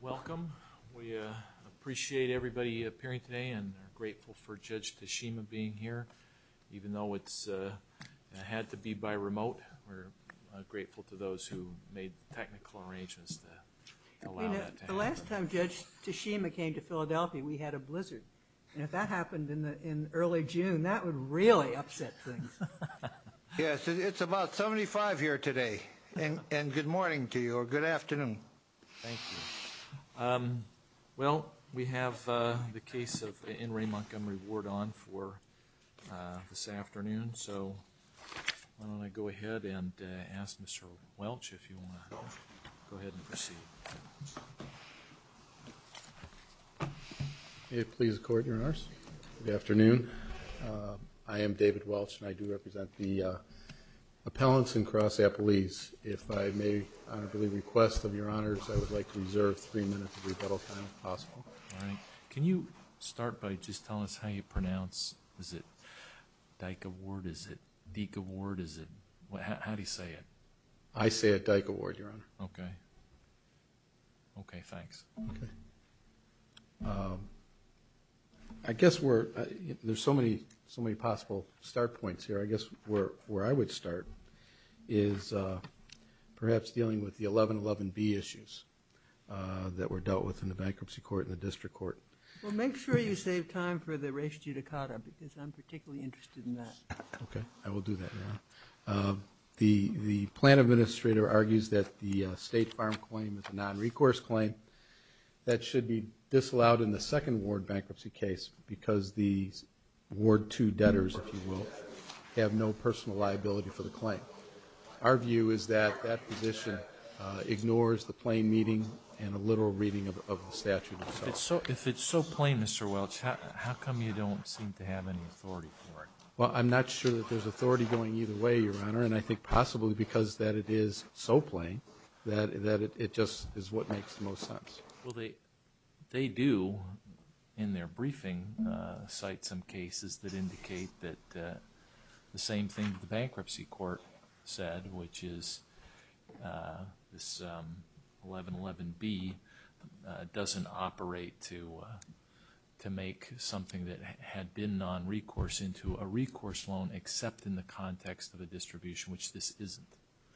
Welcome. We appreciate everybody appearing today and are grateful for Judge Tashima being here. Even though it's had to be by remote, we're grateful to those who made technical arrangements to allow that to happen. The last time Judge Tashima came to Philadelphia, we had a blizzard. If that happened in early June, that would really upset things. Yes, it's about 75 here today, and good morning to you, or good afternoon. Thank you. Well, we have the case of In Re Montgomery Ward on for this afternoon, so why don't I go ahead and ask Mr. Welch if you want to go ahead and proceed. May it please the Court, Your Honor. Appellants and Cross Appellees, if I may, on a request of Your Honors, I would like to reserve three minutes of rebuttal time, if possible. All right. Can you start by just telling us how you pronounce, is it Dyke Award, is it Deke Award, is it, how do you say it? I say it Dyke Award, Your Honor. Okay. Okay, thanks. Okay. I guess we're, there's so many possible start points here. I guess where I would start is perhaps dealing with the 1111B issues that were dealt with in the Bankruptcy Court and the District Court. Well, make sure you save time for the res judicata, because I'm particularly interested in that. Okay, I will do that, Your Honor. The plan administrator argues that the State Farm claim is a non-recourse claim that should be disallowed in the second ward bankruptcy case, because the ward two debtors, if you will, have no personal liability for the claim. Our view is that that position ignores the plain meaning and the literal reading of the statute itself. If it's so plain, Mr. Welch, how come you don't seem to have any authority for it? Well, I'm not sure that there's authority going either way, Your Honor, and I think possibly because that it is so plain that it just is what makes the most sense. Well, they do, in their briefing, cite some cases that indicate that the same thing that the Bankruptcy Court said, which is this 1111B doesn't operate to make something that had been non-recourse into a recourse loan except in the context of a distribution, which this isn't.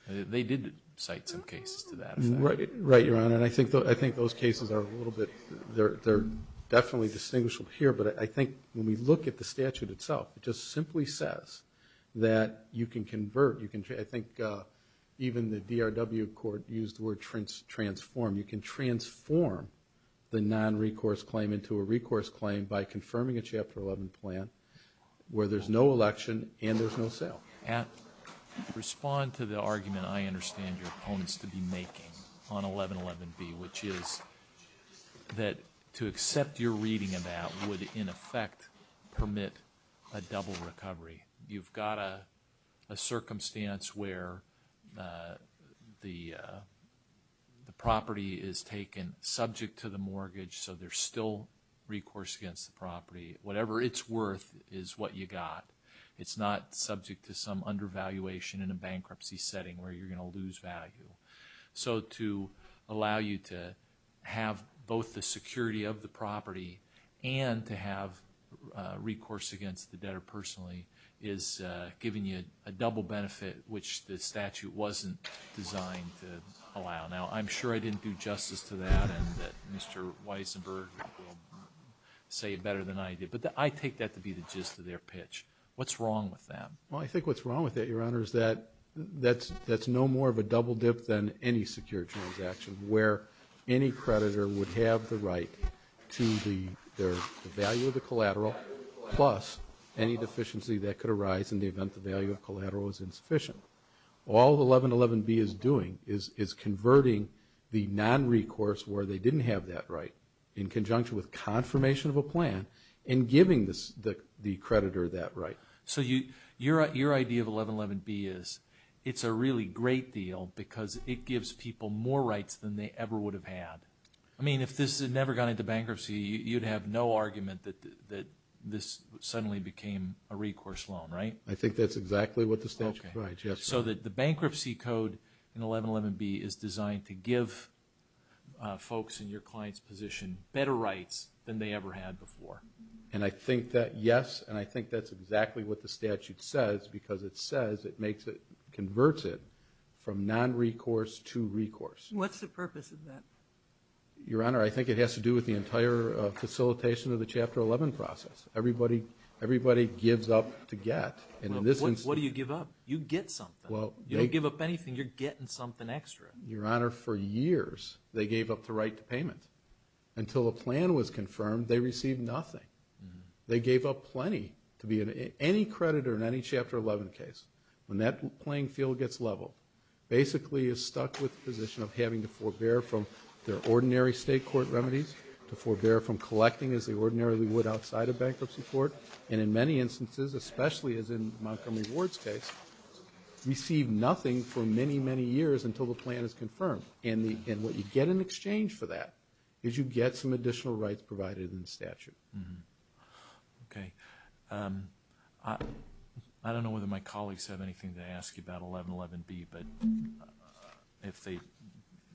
They did cite some cases to that effect. Right, Your Honor, and I think those cases are a definitely distinguishable here, but I think when we look at the statute itself, it just simply says that you can convert, you can, I think even the DRW Court used the word transform. You can transform the non-recourse claim into a recourse claim by confirming a Chapter 11 plan, where there's no election and there's no sale. Respond to the argument I understand your opponents to be making on 1111B, which is that to accept your reading of that would in effect permit a double recovery. You've got a circumstance where the property is taken subject to the mortgage, so there's still recourse against the property. Whatever it's worth is what you got. It's not subject to some undervaluation in a bankruptcy setting where you're going to lose value. So to allow you to have both the security of the property and to have recourse against the debtor personally is giving you a double benefit, which the statute wasn't designed to allow. Now, I'm sure I didn't do justice to that and Mr. Weisenberg say it better than I did, but I take that to be the gist of their pitch. What's wrong with that? Well, I think what's wrong with that, Your Honor, is that that's no more of a double dip than any secure transaction, where any creditor would have the right to the value of the collateral plus any deficiency that could arise in the event the value of collateral is insufficient. All 1111B is doing is converting the non-recourse where they didn't have that right in conjunction with confirmation of a plan and giving the creditor that right. So your idea of 1111B is it's a really great deal because it gives people more rights than they ever would have had. I mean, if this had never gone into bankruptcy, you'd have no argument that this suddenly became a recourse loan, right? I think that's exactly what the statute provides, yes. So that the bankruptcy code in 1111B is designed to give folks in your client's position better rights than they ever had before. And I think that, yes, and I think that's exactly what the statute says because it says it converts it from non-recourse to recourse. What's the purpose of that? Your Honor, I think it has to do with the entire facilitation of the Chapter 11 process. Everybody gives up to get. What do you give up? You get something. You don't give up anything. You're getting something extra. Your Honor, for years they gave up the right to payment. Until a plan was confirmed, they received nothing. They gave up plenty to be any creditor in any Chapter 11 case. When that playing field gets leveled, basically you're stuck with the position of having to forbear from their ordinary state court remedies, to forbear from collecting as they ordinarily would outside a bankruptcy court. And in many instances, especially as in Montgomery Ward's case, received nothing for many, many years until the plan is confirmed. And what you get in exchange for that is you get some additional rights provided in the statute. Okay. I don't know whether my colleagues have anything to ask you about 1111B, but if they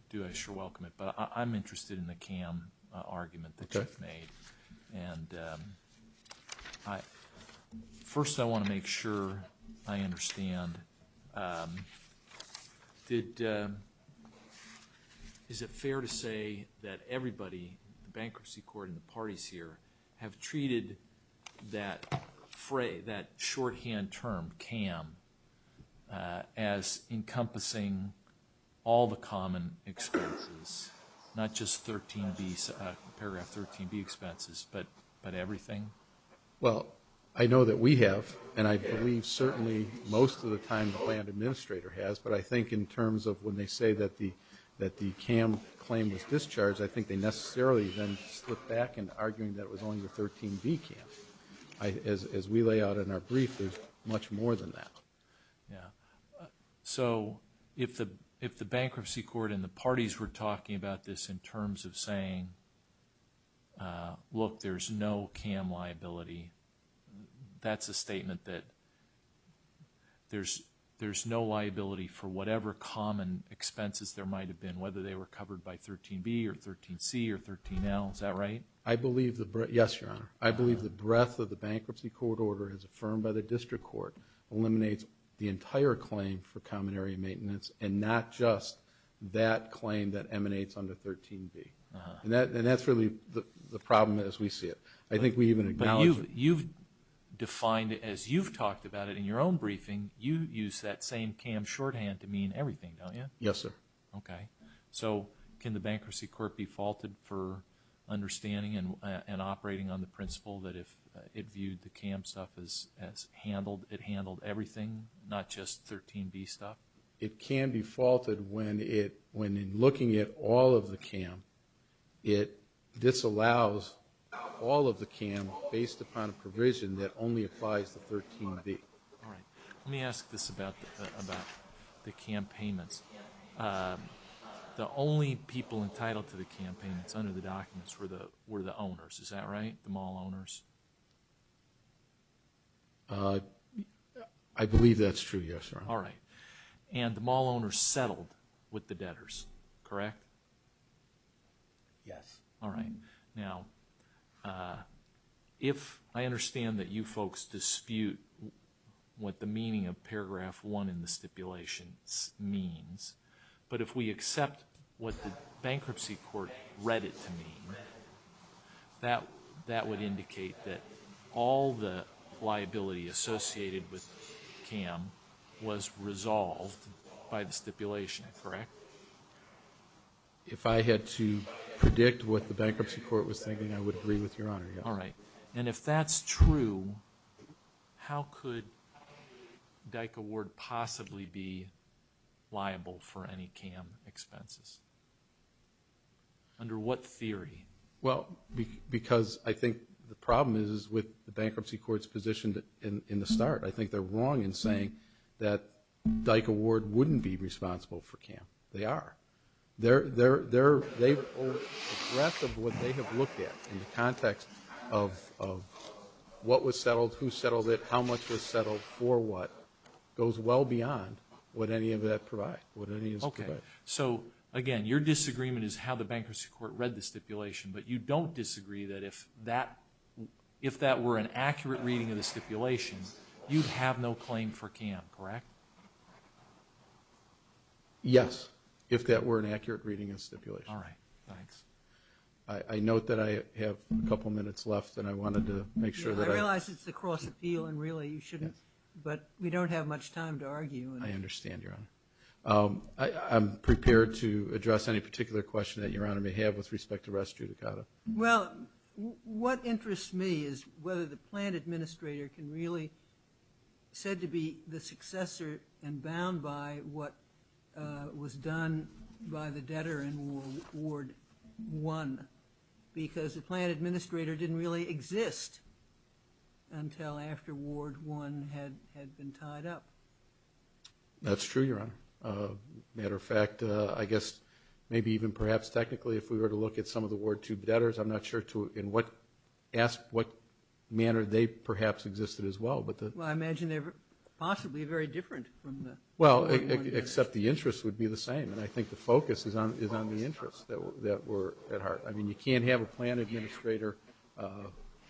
do, I sure welcome it. But I'm interested in the CAM argument that you've made. And first, I want to make sure I understand. Is it fair to say that everybody, the bankruptcy court and the parties here, have treated that shorthand term, CAM, as encompassing all the common expenses, not just paragraph 13B expenses, but everything? Well, I know that we have, and I believe certainly most of the time the plan administrator has. But I think in terms of when they say that the CAM claim was discharged, I think they necessarily then slip back into arguing that it was only the 13B CAM. As we lay out in our brief, there's much more than that. Yeah. So, if the bankruptcy court and the parties were talking about this in terms of saying, look, there's no CAM liability, that's a statement that there's no liability for whatever common expenses there might have been, whether they were covered by 13B or 13C or 13L. Is that right? Yes, Your Honor. I believe the breadth of the bankruptcy court order as affirmed by the district court eliminates the entire claim for common area maintenance and not just that claim that emanates under 13B. And that's really the problem as we see it. I think we even acknowledge it. But you've defined it as you've talked about it in your own briefing, you use that same CAM shorthand to mean everything, don't you? Yes, sir. Okay. So, can the bankruptcy court be faulted for understanding and operating on the principle that if it viewed the CAM stuff as handled, it handled everything, not just 13B stuff? It can be faulted when in looking at all of the CAM, it disallows all of the CAM based upon a provision that only applies to 13B. All right. Let me ask this about the CAM payments. The only people entitled to the CAM payments under the documents were the owners. Is that right? The mall owners? I believe that's true, yes, Your Honor. All right. And the mall owners settled with the debtors, correct? Yes. All right. Now, if I understand that you folks dispute what the bankruptcy court read it to mean, that would indicate that all the liability associated with CAM was resolved by the stipulation, correct? If I had to predict what the bankruptcy court was thinking, I would agree with Your Honor, yes. All right. And if that's true, how could Dyke Award possibly be liable for any CAM expenses? Well, I think it would be under what theory? Well, because I think the problem is with the bankruptcy court's position in the start. I think they're wrong in saying that Dyke Award wouldn't be responsible for CAM. They are. The breadth of what they have looked at in the context of what was settled, who settled it, how much was settled, for what, goes well beyond what any of that provides, what any of that provides. Okay. So, again, your disagreement is how the bankruptcy court read the stipulation, but you don't disagree that if that were an accurate reading of the stipulation, you'd have no claim for CAM, correct? Yes, if that were an accurate reading of the stipulation. All right. Thanks. I note that I have a couple minutes left, and I wanted to make sure that I... I realize it's a cross-appeal, and really you shouldn't, but we don't have much time to argue. I understand, Your Honor. I'm prepared to address any particular question that Your Honor may have with respect to res judicata. Well, what interests me is whether the plan administrator can really, said to be the successor and bound by what was done by the debtor in Ward 1, because the plan administrator didn't really exist until after Ward 1 had been tied up. That's true, Your Honor. Matter of fact, I guess maybe even perhaps technically if we were to look at some of the Ward 2 debtors, I'm not sure to in what... ask what manner they perhaps existed as well, but the... Well, I imagine they were possibly very different from the... Well, except the interest would be the same, and I think the focus is on the interests that were at heart. I mean, you can't have a plan administrator,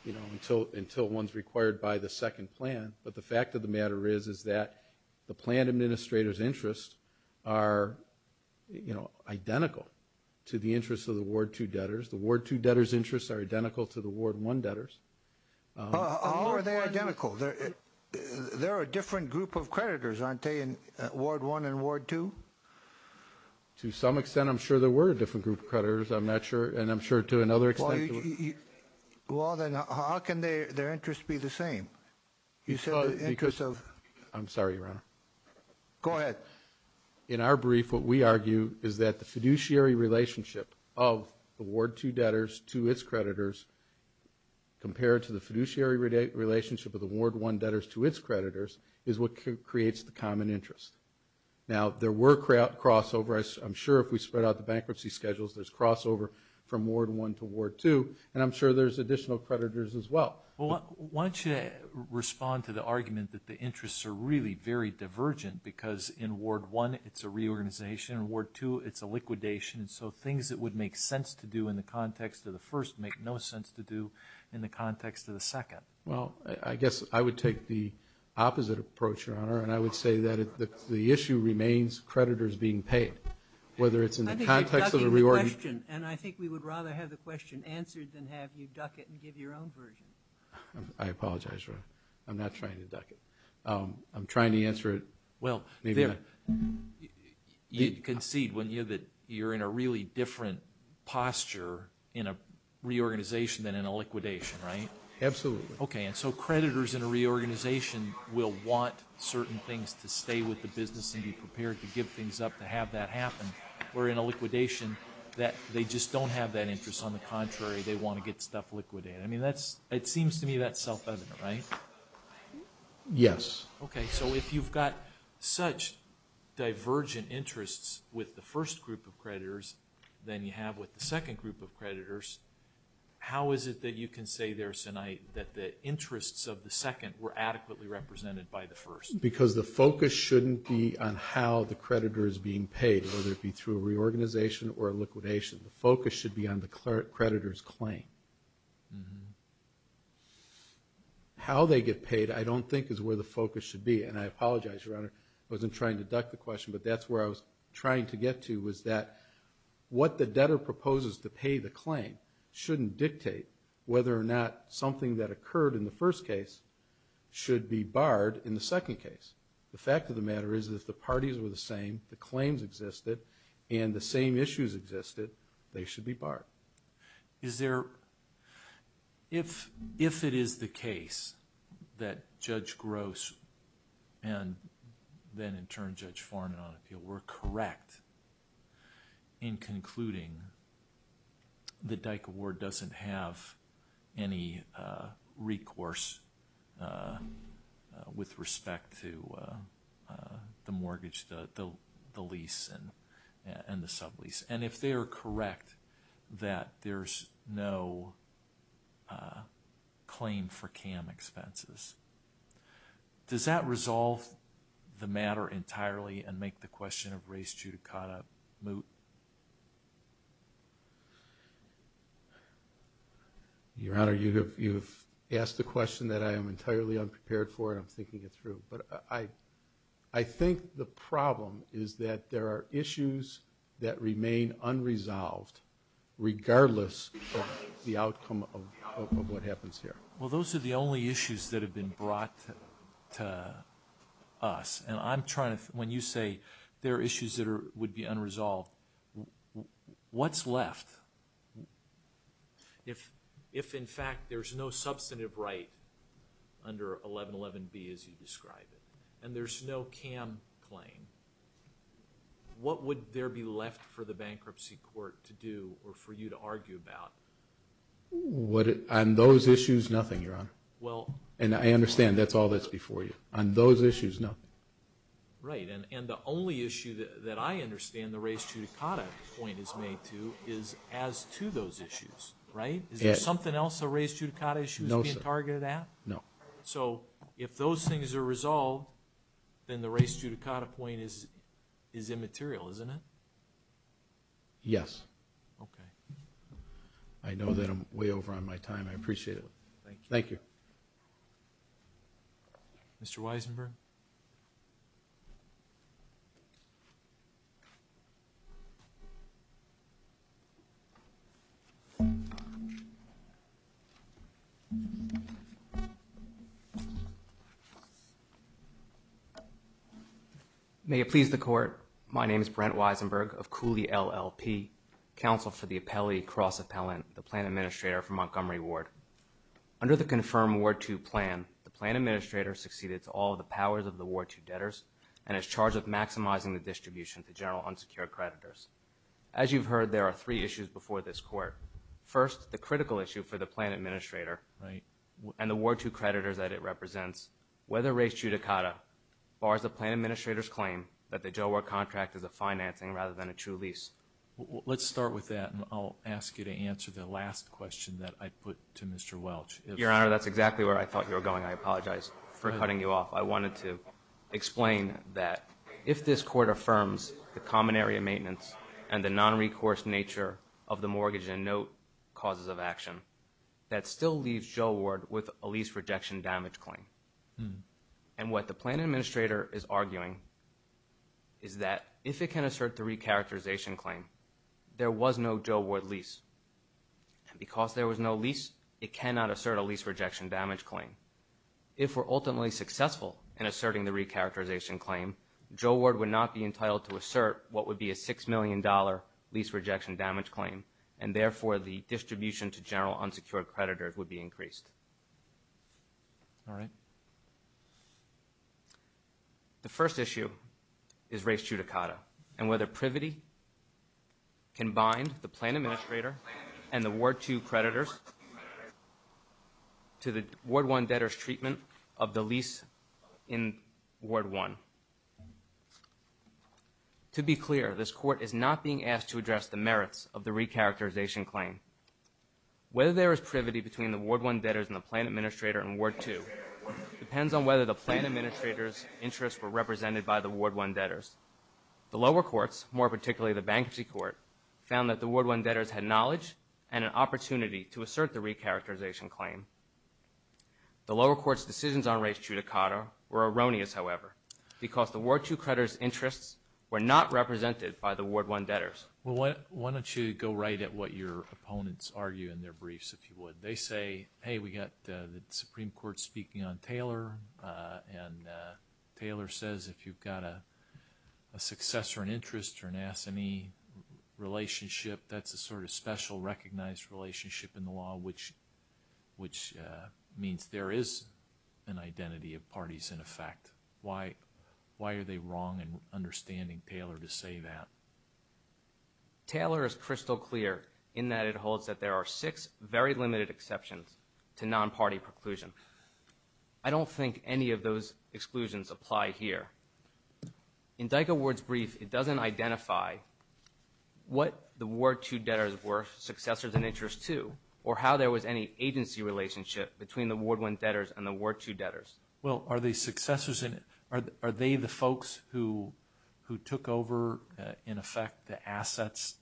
you know, until one's required by the second plan, but the fact of the matter is is that the plan administrator's interests are, you know, identical to the interests of the Ward 2 debtors. The Ward 2 debtors' interests are identical to the Ward 1 debtors. How are they identical? They're a different group of creditors, aren't they, in Ward 1 and Ward 2? To some extent, I'm sure there were a different group of creditors. I'm not sure. Well, then how can their interests be the same? You said the interests of... I'm sorry, Your Honor. Go ahead. In our brief, what we argue is that the fiduciary relationship of the Ward 2 debtors to its creditors compared to the fiduciary relationship of the Ward 1 debtors to its creditors is what creates the common interest. Now, there were crossovers. I'm sure if we spread out the bankruptcy schedules, there's crossover from Ward 1 to Ward 2. And I'm sure there's additional creditors as well. Why don't you respond to the argument that the interests are really very divergent because in Ward 1, it's a reorganization. In Ward 2, it's a liquidation. And so things that would make sense to do in the context of the first make no sense to do in the context of the second. Well, I guess I would take the opposite approach, Your Honor, and I would say that the issue remains creditors being paid, whether it's in the context of the reorganization... I think you're ducking the question, and I would rather have you duck it and give your own version. I apologize, Your Honor. I'm not trying to duck it. I'm trying to answer it... Well, you concede when you're in a really different posture in a reorganization than in a liquidation, right? Absolutely. Okay, and so creditors in a reorganization will want certain things to stay with the business and be prepared to give things up to have that happen, where in a liquidation, they just don't have that interest. On the contrary, they want to get stuff liquidated. I mean, it seems to me that's self-evident, right? Yes. Okay, so if you've got such divergent interests with the first group of creditors than you have with the second group of creditors, how is it that you can say there tonight that the interests of the second were adequately represented by the first? Because the focus shouldn't be on how the creditor is being paid. The focus should be on the creditor's claim. How they get paid, I don't think is where the focus should be, and I apologize, Your Honor. I wasn't trying to duck the question, but that's where I was trying to get to was that what the debtor proposes to pay the claim shouldn't dictate whether or not something that occurred in the first case should be barred in the second case. The fact of the matter is that if the parties were the same, the claims existed, and the same issues existed, they should be barred. Is there, if it is the case that Judge Gross and then in turn Judge Foreman on appeal were correct in concluding that Dyke Award doesn't have any recourse with respect to the mortgage, the lease, and the sublease, and if they are correct that there's no claim for CAM expenses, does that make sense? Your Honor, you've asked a question that I am entirely unprepared for and I'm thinking it through, but I think the problem is that there are issues that remain unresolved regardless of the outcome of what happens here. Well, those are the only issues that have been brought to us, and I'm trying to, when you say there are issues that would be left, if in fact there's no substantive right under 1111B as you describe it, and there's no CAM claim, what would there be left for the bankruptcy court to do or for you to argue about? On those issues, nothing, Your Honor, and I understand that's all that's before you. On those issues, that I understand the res judicata point is made to is as to those issues, right? Is there something else the res judicata issue is being targeted at? No. So, if those things are resolved, then the res judicata point is immaterial, isn't it? Yes. Okay. I know that I'm way over on my side. May it please the Court, my name is Brent Weisenberg of Cooley LLP, counsel for the appellee cross-appellant, the plan administrator for Montgomery Ward. Under the confirmed Ward 2 plan, the plan administrator succeeded to all the powers of the Ward 2 debtors and is to general unsecured creditors. As you've heard, there are three issues before this court. First, the critical issue for the plan administrator and the Ward 2 creditors that it represents, whether res judicata bars the plan administrator's claim that the Joe Ward contract is a financing rather than a true lease. Let's start with that and I'll ask you to answer the last question that I put to Mr. Welch. Your Honor, that's exactly where I thought you were going. I maintenance and the non-recourse nature of the mortgage and note causes of action that still leaves Joe Ward with a lease rejection damage claim. And what the plan administrator is arguing is that if it can assert the recharacterization claim, there was no Joe Ward lease. Because there was no lease, it cannot assert a lease rejection damage claim. If we're ultimately successful in to assert what would be a $6 million lease rejection damage claim and therefore the distribution to general unsecured creditors would be increased. The first issue is res judicata and whether privity can bind the plan administrator and the Ward 2 creditors to the Ward 1 debtors treatment of the lease in Ward 1. To be clear, this court is not being asked to address the merits of the recharacterization claim. Whether there is privity between the Ward 1 debtors and the plan administrator in Ward 2 depends on whether the plan administrator's interests were represented by the Ward 1 debtors. The lower courts, more particularly the bankruptcy court, found that the Ward 1 debtors had knowledge and an opportunity to assert the recharacterization claim. The lower court's decisions on res judicata were erroneous, however, because the Ward 2 creditors' interests were not represented by the Ward 1 debtors. Well, why don't you go right at what your opponents argue in their briefs, if you would. They say, hey, we got the Supreme Court speaking on Taylor and Taylor says if you've got a successor in interest or an S&E relationship, that's a sort of special recognized relationship in the law which means there is an identity of parties in effect. Why are they wrong in understanding Taylor to say that? Taylor is crystal clear in that it holds that there are six very limited exceptions to non-party preclusion. I don't think any of those exclusions apply here. In Dyko Ward's brief, it doesn't identify what the Ward 2 debtors were successors in interest to or how there was any agency relationship between the Ward 1 debtors and the Ward 2 debtors. Well, are they the folks who took over, in effect, the assets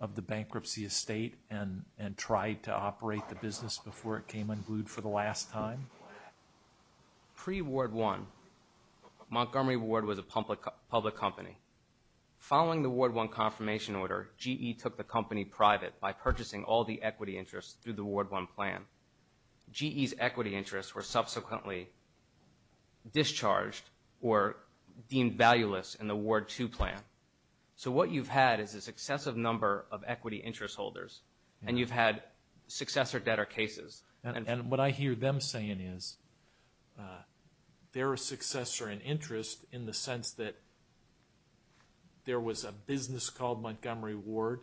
of the bankruptcy estate and tried to operate the business before it came unglued for the last time? Pre-Ward 1, Montgomery Ward was a public company. Following the Ward 1 confirmation order, GE took the company private by purchasing all the equity interests through the Ward 1 plan. GE's equity interests were subsequently discharged or deemed valueless in the Ward 2 plan. So what you've had is a successive number of equity interest holders and you've had successor debtor cases. And what I hear them saying is, they're a successor in interest in the sense that there was a business called Montgomery Ward.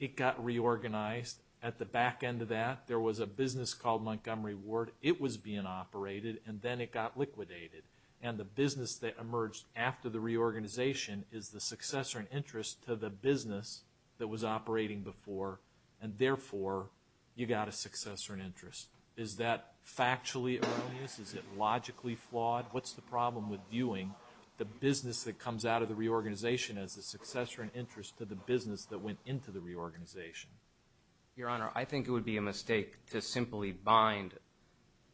It got reorganized. At the back end of that, there was a business called Montgomery Ward. It was being operated and then it got liquidated. And the business that emerged after the reorganization is the successor in interest to the business that was operating before. And therefore, you got a successor in interest. Is that factually erroneous? Is it logically flawed? What's the problem with viewing the business that comes out of the reorganization as the successor in interest to the business that went into the reorganization? Your Honor, I think it would be a mistake to simply bind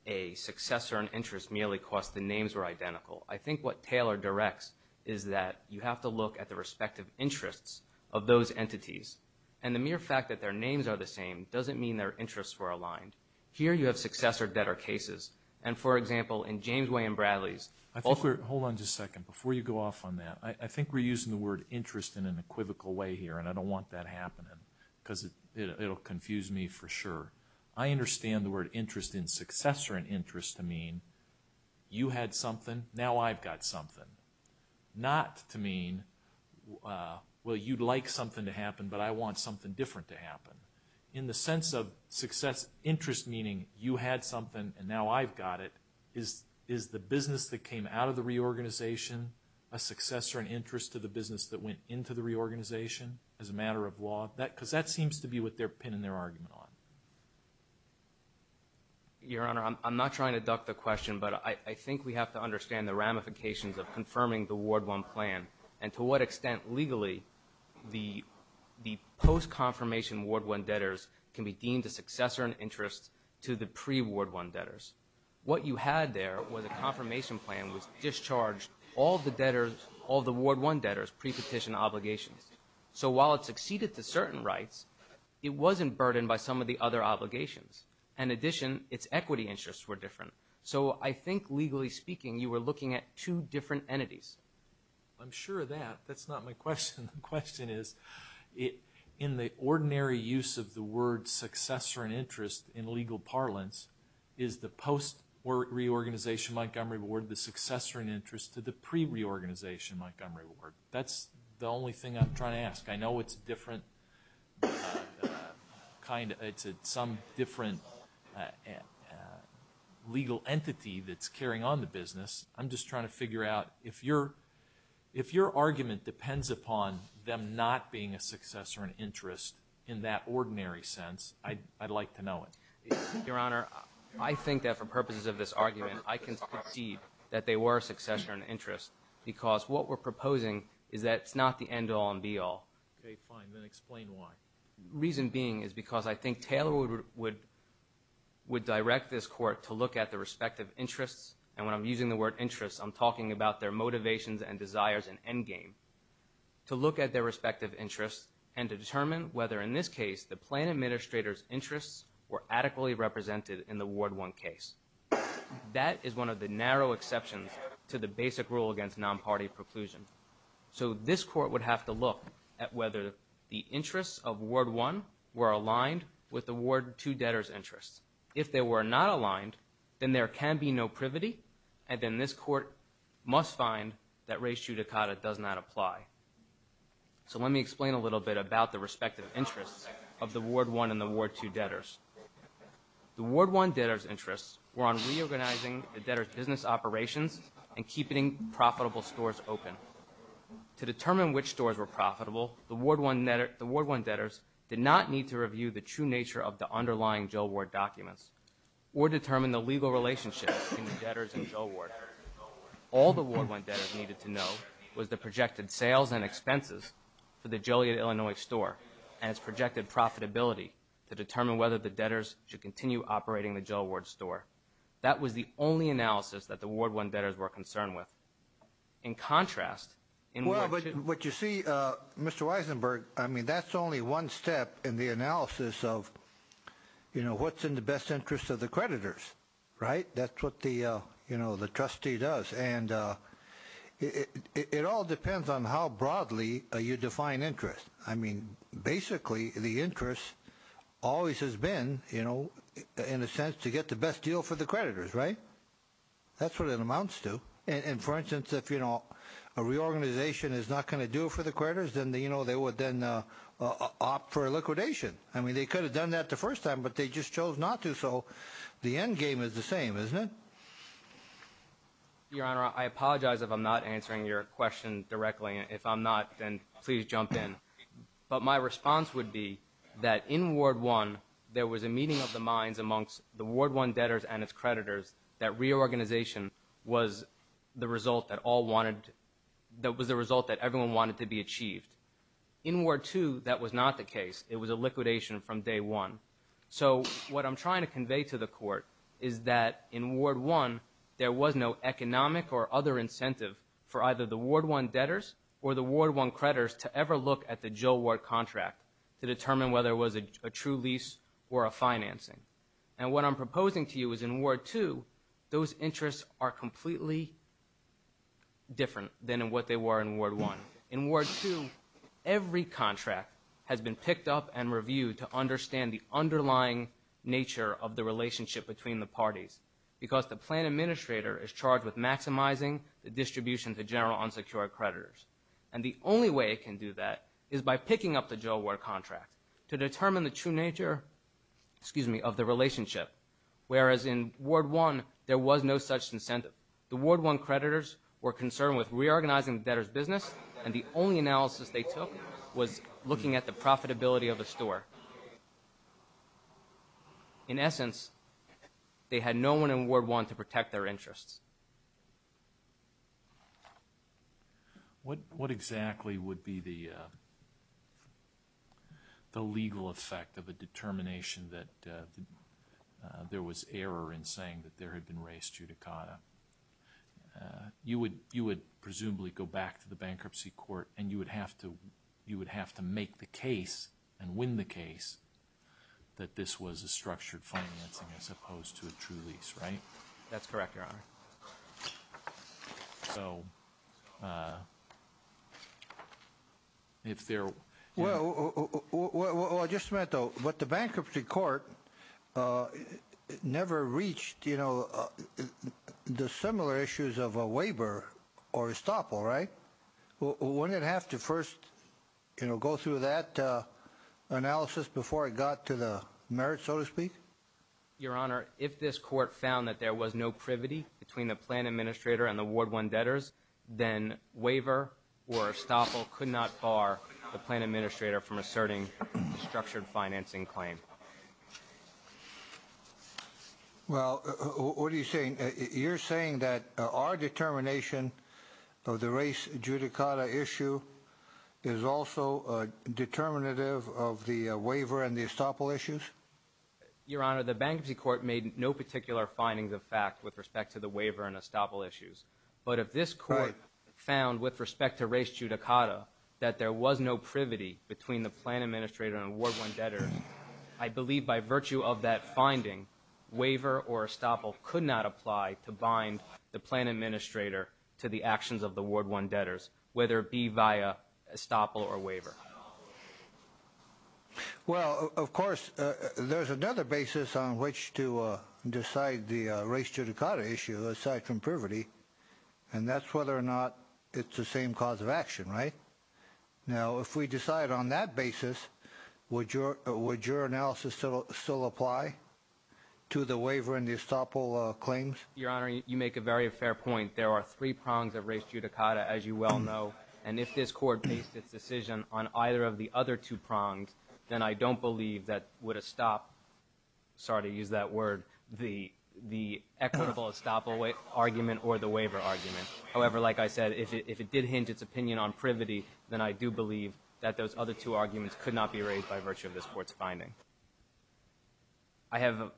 a successor in interest merely because the names were identical. I think what Taylor directs is that you have to look at the respective interests of those entities. And the mere fact that their names are the same doesn't mean their interests were aligned. Here you have successor debtor cases. And for example, in James I'll let you go off on that. I think we're using the word interest in an equivocal way here and I don't want that happening because it'll confuse me for sure. I understand the word interest in successor in interest to mean you had something, now I've got something. Not to mean, well you'd like something to happen but I want something different to happen. In the sense of success interest meaning you had something and now I've got it, is the business that came out of the reorganization a successor in interest to the business that went into the reorganization as a matter of law? Because that seems to be what they're pinning their argument on. Your Honor, I'm not trying to duck the question but I think we have to understand the ramifications of confirming the Ward 1 plan and to what extent legally the post-confirmation Ward 1 debtors can be deemed a successor in interest to the pre-Ward 1 debtors. What you had there was a confirmation plan which discharged all the debtors, all the Ward 1 debtors, pre-petition obligations. So while it succeeded to certain rights, it wasn't burdened by some of the other obligations. In addition, its equity interests were different. So I think legally speaking you were looking at two different entities. I'm sure of that. That's not my question. The question is, in the ordinary use of the word successor in interest in legal parlance, is the post-reorganization Montgomery Ward the successor in interest to the pre-reorganization Montgomery Ward? That's the only thing I'm trying to ask. I know it's different, it's some different legal entity that's carrying on the business. I'm just trying to figure out if your argument depends upon them not being a successor in interest in that ordinary sense, I'd like to know it. Your Honor, I think that for purposes of this argument, I can see that they were a successor in interest because what we're proposing is that it's not the end-all and be-all. Okay, fine. Then explain why. Reason being is because I think Taylor would direct this court to look at the respective interests, and when I'm using the word interests, I'm talking about their motivations and desires in endgame, to look at their respective interests and to determine whether in this case the plan administrator's interests were adequately represented in the Ward 1 case. That is one of the narrow exceptions to the basic rule against non-party preclusion. So this court would have to look at whether the interests of Ward 1 were aligned with the Ward 2 debtors' interests. If they were not aligned, then there can be no privity, and then this court must find that res judicata does not apply. So let me explain a little bit about the respective interests of the Ward 1 and the Ward 2 debtors. The Ward 1 debtors' interests were on reorganizing the debtors' business operations and keeping profitable stores open. To determine which stores were profitable, the Ward 1 debtors did not need to review the true nature of the underlying Jail Ward documents or determine the legal relationship between the debtors and Jail Ward. All the Ward 1 debtors needed to know was the projected sales and expenses for the Joliet, Illinois store and its projected profitability to determine whether the debtors should continue operating the Jail Ward store. That was the only analysis that the Ward 1 debtors were concerned with. In contrast, in Ward 2... Well, but you see, Mr. Weisenberg, I mean, that's only one step in the analysis of, you know, what's in the best interest of the creditors, right? That's what the trustee does. And it all depends on how broadly you define interest. I mean, basically, the interest always has been, you know, in a sense to get the best deal for the creditors, right? That's what it amounts to. And for instance, if, you know, a reorganization is not going to do it for the creditors, then, you know, they would then opt for a liquidation. I mean, they could have done that the first time, but they just chose not to. So the end game is the same, isn't it? Your Honor, I apologize if I'm not answering your question directly. If I'm not, then please jump in. But my response would be that in Ward 1, there was a meeting of the minds amongst the Ward 1 debtors and its creditors that reorganization was the result that all wanted... that was the result that everyone wanted to be achieved. In Ward 2, that was not the case. It was a liquidation from Day 1. So what I'm trying to convey to the Court is that in Ward 1, there was no economic or other incentive for either the Ward 1 debtors or the Ward 1 creditors to ever look at the Jill Ward contract to determine whether it was a true lease or a financing. And what I'm proposing to you is in Ward 2, those interests are completely different than what they were in Ward 1. In Ward 2, every contract has been picked up and reviewed to understand the underlying nature of the relationship between the parties, because the plan administrator is charged with maximizing the distribution to general unsecured creditors. And the only way it can do that is by picking up the Jill Ward contract to determine the true nature, excuse me, of the relationship. Whereas in Ward 1, there was no such incentive. The Ward 1 creditors were concerned with reorganizing debtors' business, and the only analysis they took was looking at the profitability of the store. In essence, they had no one in Ward 1 to protect their interests. What exactly would be the legal effect of a determination that there was error in saying that there had been race judicata? You would presumably go back to the bankruptcy court and you would have to make the case and win the case that this was a structured financing as opposed to a true lease, right? That's correct, Your Honor. Well, just a minute though. But the bankruptcy court never reached, you know, the similar issues of a waiver or estoppel, right? Wouldn't it have to first, you know, go through that analysis before it got to the merits, so to speak? Your Honor, if this court found that there was no privity between the plan administrator and the Ward 1 debtors, then waiver or estoppel could not bar the plan administrator from asserting a structured financing claim. Well, what are you saying? You're saying that our determination of the race judicata issue is also determinative of the waiver and the estoppel issues? Your Honor, the bankruptcy court made no particular findings of fact with respect to the waiver and estoppel issues. But if this court found with respect to race judicata that there was no privity between the plan administrator and Ward 1 debtors, I believe by virtue of that finding, waiver or estoppel could not apply to bind the plan administrator to the actions of the Ward 1 debtors, whether it be via estoppel or waiver. Well, of course, there's another basis on which to decide the race judicata issue aside from privity, and that's whether or not it's the same cause of action, right? Now, if we decide on that basis, would your analysis still apply to the waiver and the estoppel claims? Your Honor, you make a very fair point. There are three prongs of race judicata, as you well know, and if this court makes its decision on either of the other two prongs, then I don't believe that would estoppel, sorry to use that word, the equitable estoppel argument or the waiver argument. However, like I said, if it did hinge its opinion on privity, then I do believe that those other two arguments could not be raised by virtue of this court's finding. I have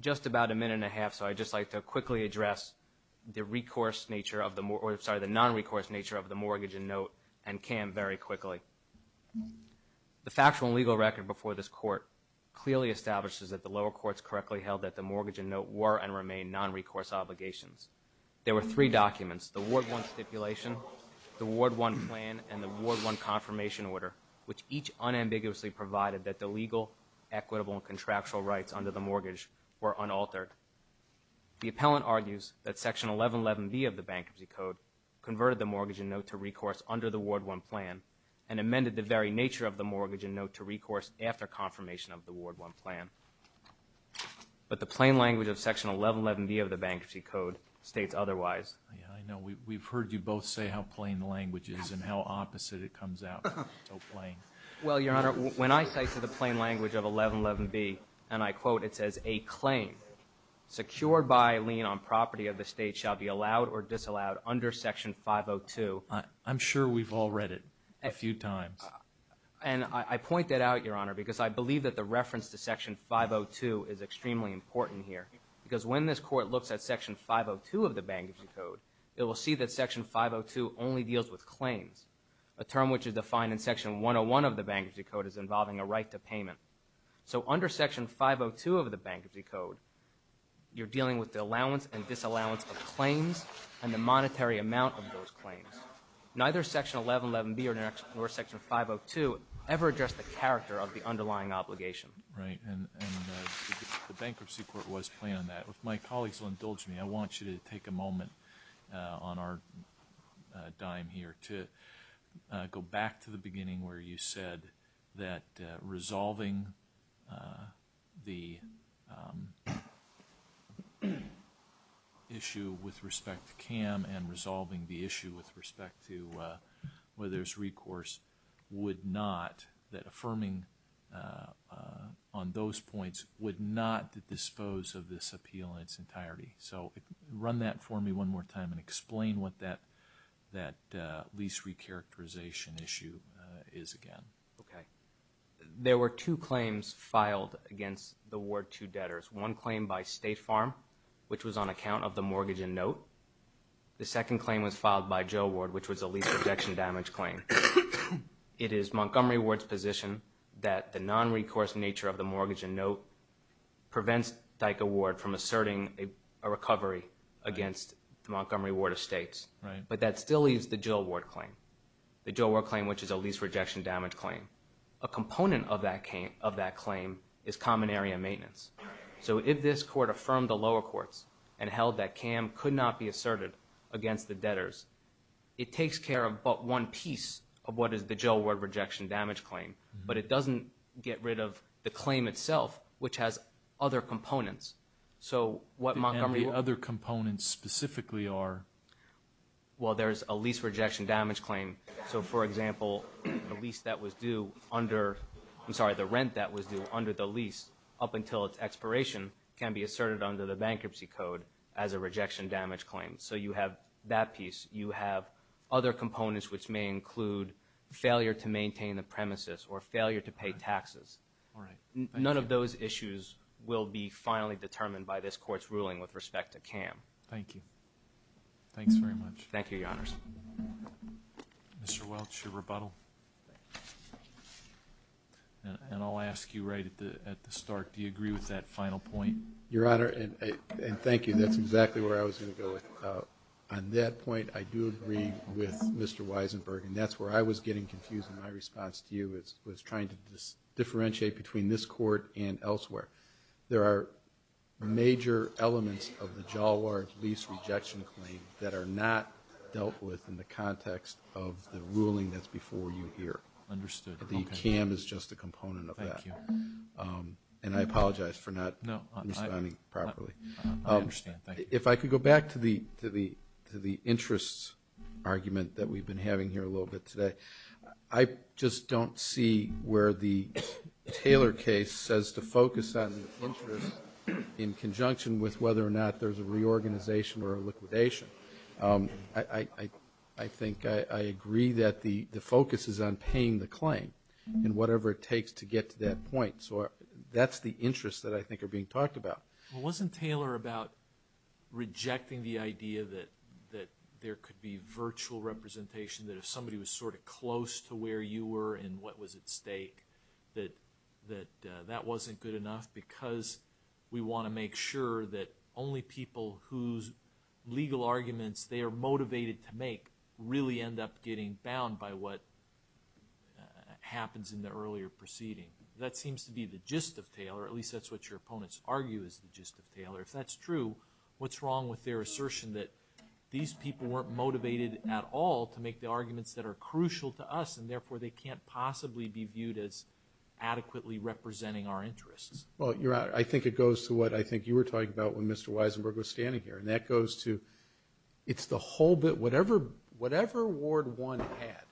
just about a minute and a half, so I'd just like to quickly address the non-recourse nature of the mortgage and note and CAM very quickly. The factual and legal record before this court clearly establishes that the lower courts correctly held that the mortgage and note were and remain non-recourse obligations. There were three documents, the Ward 1 stipulation, the Ward 1 plan, and the Ward 1 confirmation order, which each unambiguously provided that the legal, equitable, and contractual rights under the mortgage were unaltered. The appellant argues that Section 1111B of the Bankruptcy Code converted the mortgage and note to recourse under the Ward 1 plan and amended the very nature of the mortgage and note to recourse after confirmation of the Ward 1 plan, but the plain language of Section 1111B of the Bankruptcy Code states otherwise. Yeah, I know. We've heard you both say how plain the language is and how opposite it comes out. So plain. Well, Your Honor, when I cite to the plain language of 1111B and I quote, it says, a claim secured by lien on property of the state shall be allowed or disallowed under Section 502. I'm sure we've all read it a few times. And I point that out, Your Honor, because I believe that the reference to Section 502 is extremely important here because when this court looks at Section 502 of the Bankruptcy Code, it will see that Section 502 only deals with claims, a term which is defined in Section 101 of the Bankruptcy Code as involving a right to payment. So under Section 502 of the Bankruptcy Code, you're dealing with the allowance and disallowance of claims and the monetary amount of those claims. Neither Section 1111B nor Section 502 ever addressed the character of the underlying obligation. Right. And the Bankruptcy Court was plain on that. If my colleagues will indulge me, I want you to take a moment on our dime here to go back to the beginning where you said that resolving the issue with respect to CAM and resolving the issue with respect to whether there's recourse would not, that affirming on those points would not dispose of this appeal in its entirety. So run that for me one more time and explain what that lease recharacterization issue is again. Okay. There were two claims filed against the Ward 2 debtors. One claim by State Farm, which was on account of the mortgage and note. The second claim was filed by Joe Ward, which was a lease rejection damage claim. It is Montgomery Ward's position that the asserting a recovery against Montgomery Ward Estates, but that still leaves the Joe Ward claim. The Joe Ward claim, which is a lease rejection damage claim. A component of that claim is common area maintenance. So if this court affirmed the lower courts and held that CAM could not be asserted against the debtors, it takes care of but one piece of what is the Joe Ward rejection damage claim, but it doesn't get rid of the claim itself, which has other components. So what other components specifically are? Well, there's a lease rejection damage claim. So for example, the lease that was due under, I'm sorry, the rent that was due under the lease up until its expiration can be asserted under the bankruptcy code as a rejection damage claim. So you have that piece, you have other components, which may include failure to maintain the premises or failure to pay taxes. None of those issues will be finally determined by this court's ruling with respect to CAM. Thank you. Thanks very much. Thank you, Your Honors. Mr. Welch, your rebuttal. And I'll ask you right at the start, do you agree with that final point? Your Honor, and thank you. That's exactly where I was going to go with it. On that point, I do agree with Mr. Weisenberg. And that's where I was getting confused in my response to you, was trying to differentiate between this court and elsewhere. There are major elements of the Jalwar lease rejection claim that are not dealt with in the context of the ruling that's before you here. The CAM is just a component of that. And I apologize for not responding properly. If I could go back to the interest argument that we've been having here a little bit today, I just don't see where the Taylor case says to focus on interest in conjunction with whether or not there's a reorganization or a liquidation. I think I agree that the focus is on paying the claim and whatever it takes to get to that point. So that's the interest that I think are being talked about. Well, wasn't Taylor about rejecting the idea that there could be virtual representation, that if somebody was sort of close to where you were and what was at stake, that that wasn't good enough because we want to make sure that only people whose legal arguments they are motivated to make really end up getting bound by what happens in the earlier proceeding. That seems to be the gist of Taylor, at least that's what your opponents argue is the gist of Taylor. If that's true, what's wrong with their assertion that these people weren't motivated at all to make the arguments that are crucial to us and therefore they can't possibly be viewed as adequately representing our interests? Well, I think it goes to what I think you were talking about when Mr. Weisenberg was standing here, and that goes to it's the whole bit, whatever Ward 1 had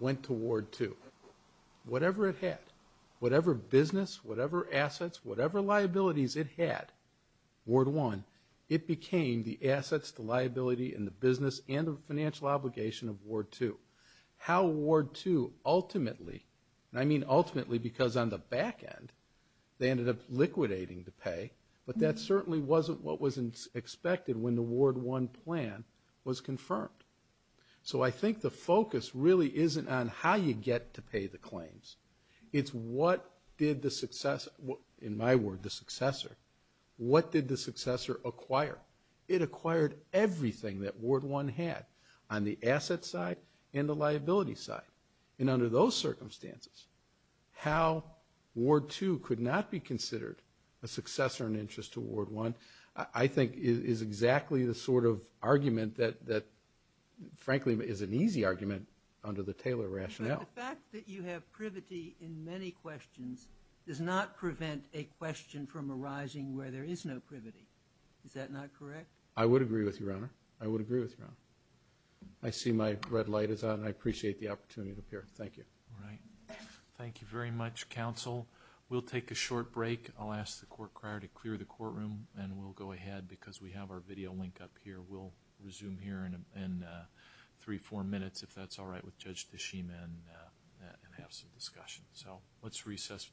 went to Ward 2. Whatever it had, whatever business, whatever assets, whatever liabilities it had, Ward 1, it became the assets, the liability, and the business and the financial obligation of Ward 2. How Ward 2 ultimately, and I mean ultimately because on the back end, they ended up liquidating the pay, but that certainly wasn't what was expected when the Ward 1 plan was confirmed. So I think the focus really isn't on how you get to pay the claims, it's what did the successor, in my word, the successor, what did the successor acquire? It acquired everything that Ward 1 had on the asset side and the liability side. And under those circumstances, how Ward 2 could not be considered a successor in interest to Ward 1, I think is exactly the sort of argument that frankly is an easy argument under the Taylor rationale. But the fact that you have privity in many questions does not prevent a question from privity. Is that not correct? I would agree with you, Your Honor. I would agree with you, Your Honor. I see my red light is on. I appreciate the opportunity to appear. Thank you. All right. Thank you very much, counsel. We'll take a short break. I'll ask the court crier to clear the courtroom and we'll go ahead because we have our video link up here. We'll resume here in three, four minutes if that's all right with Judge Tashima and have some discussion. So let's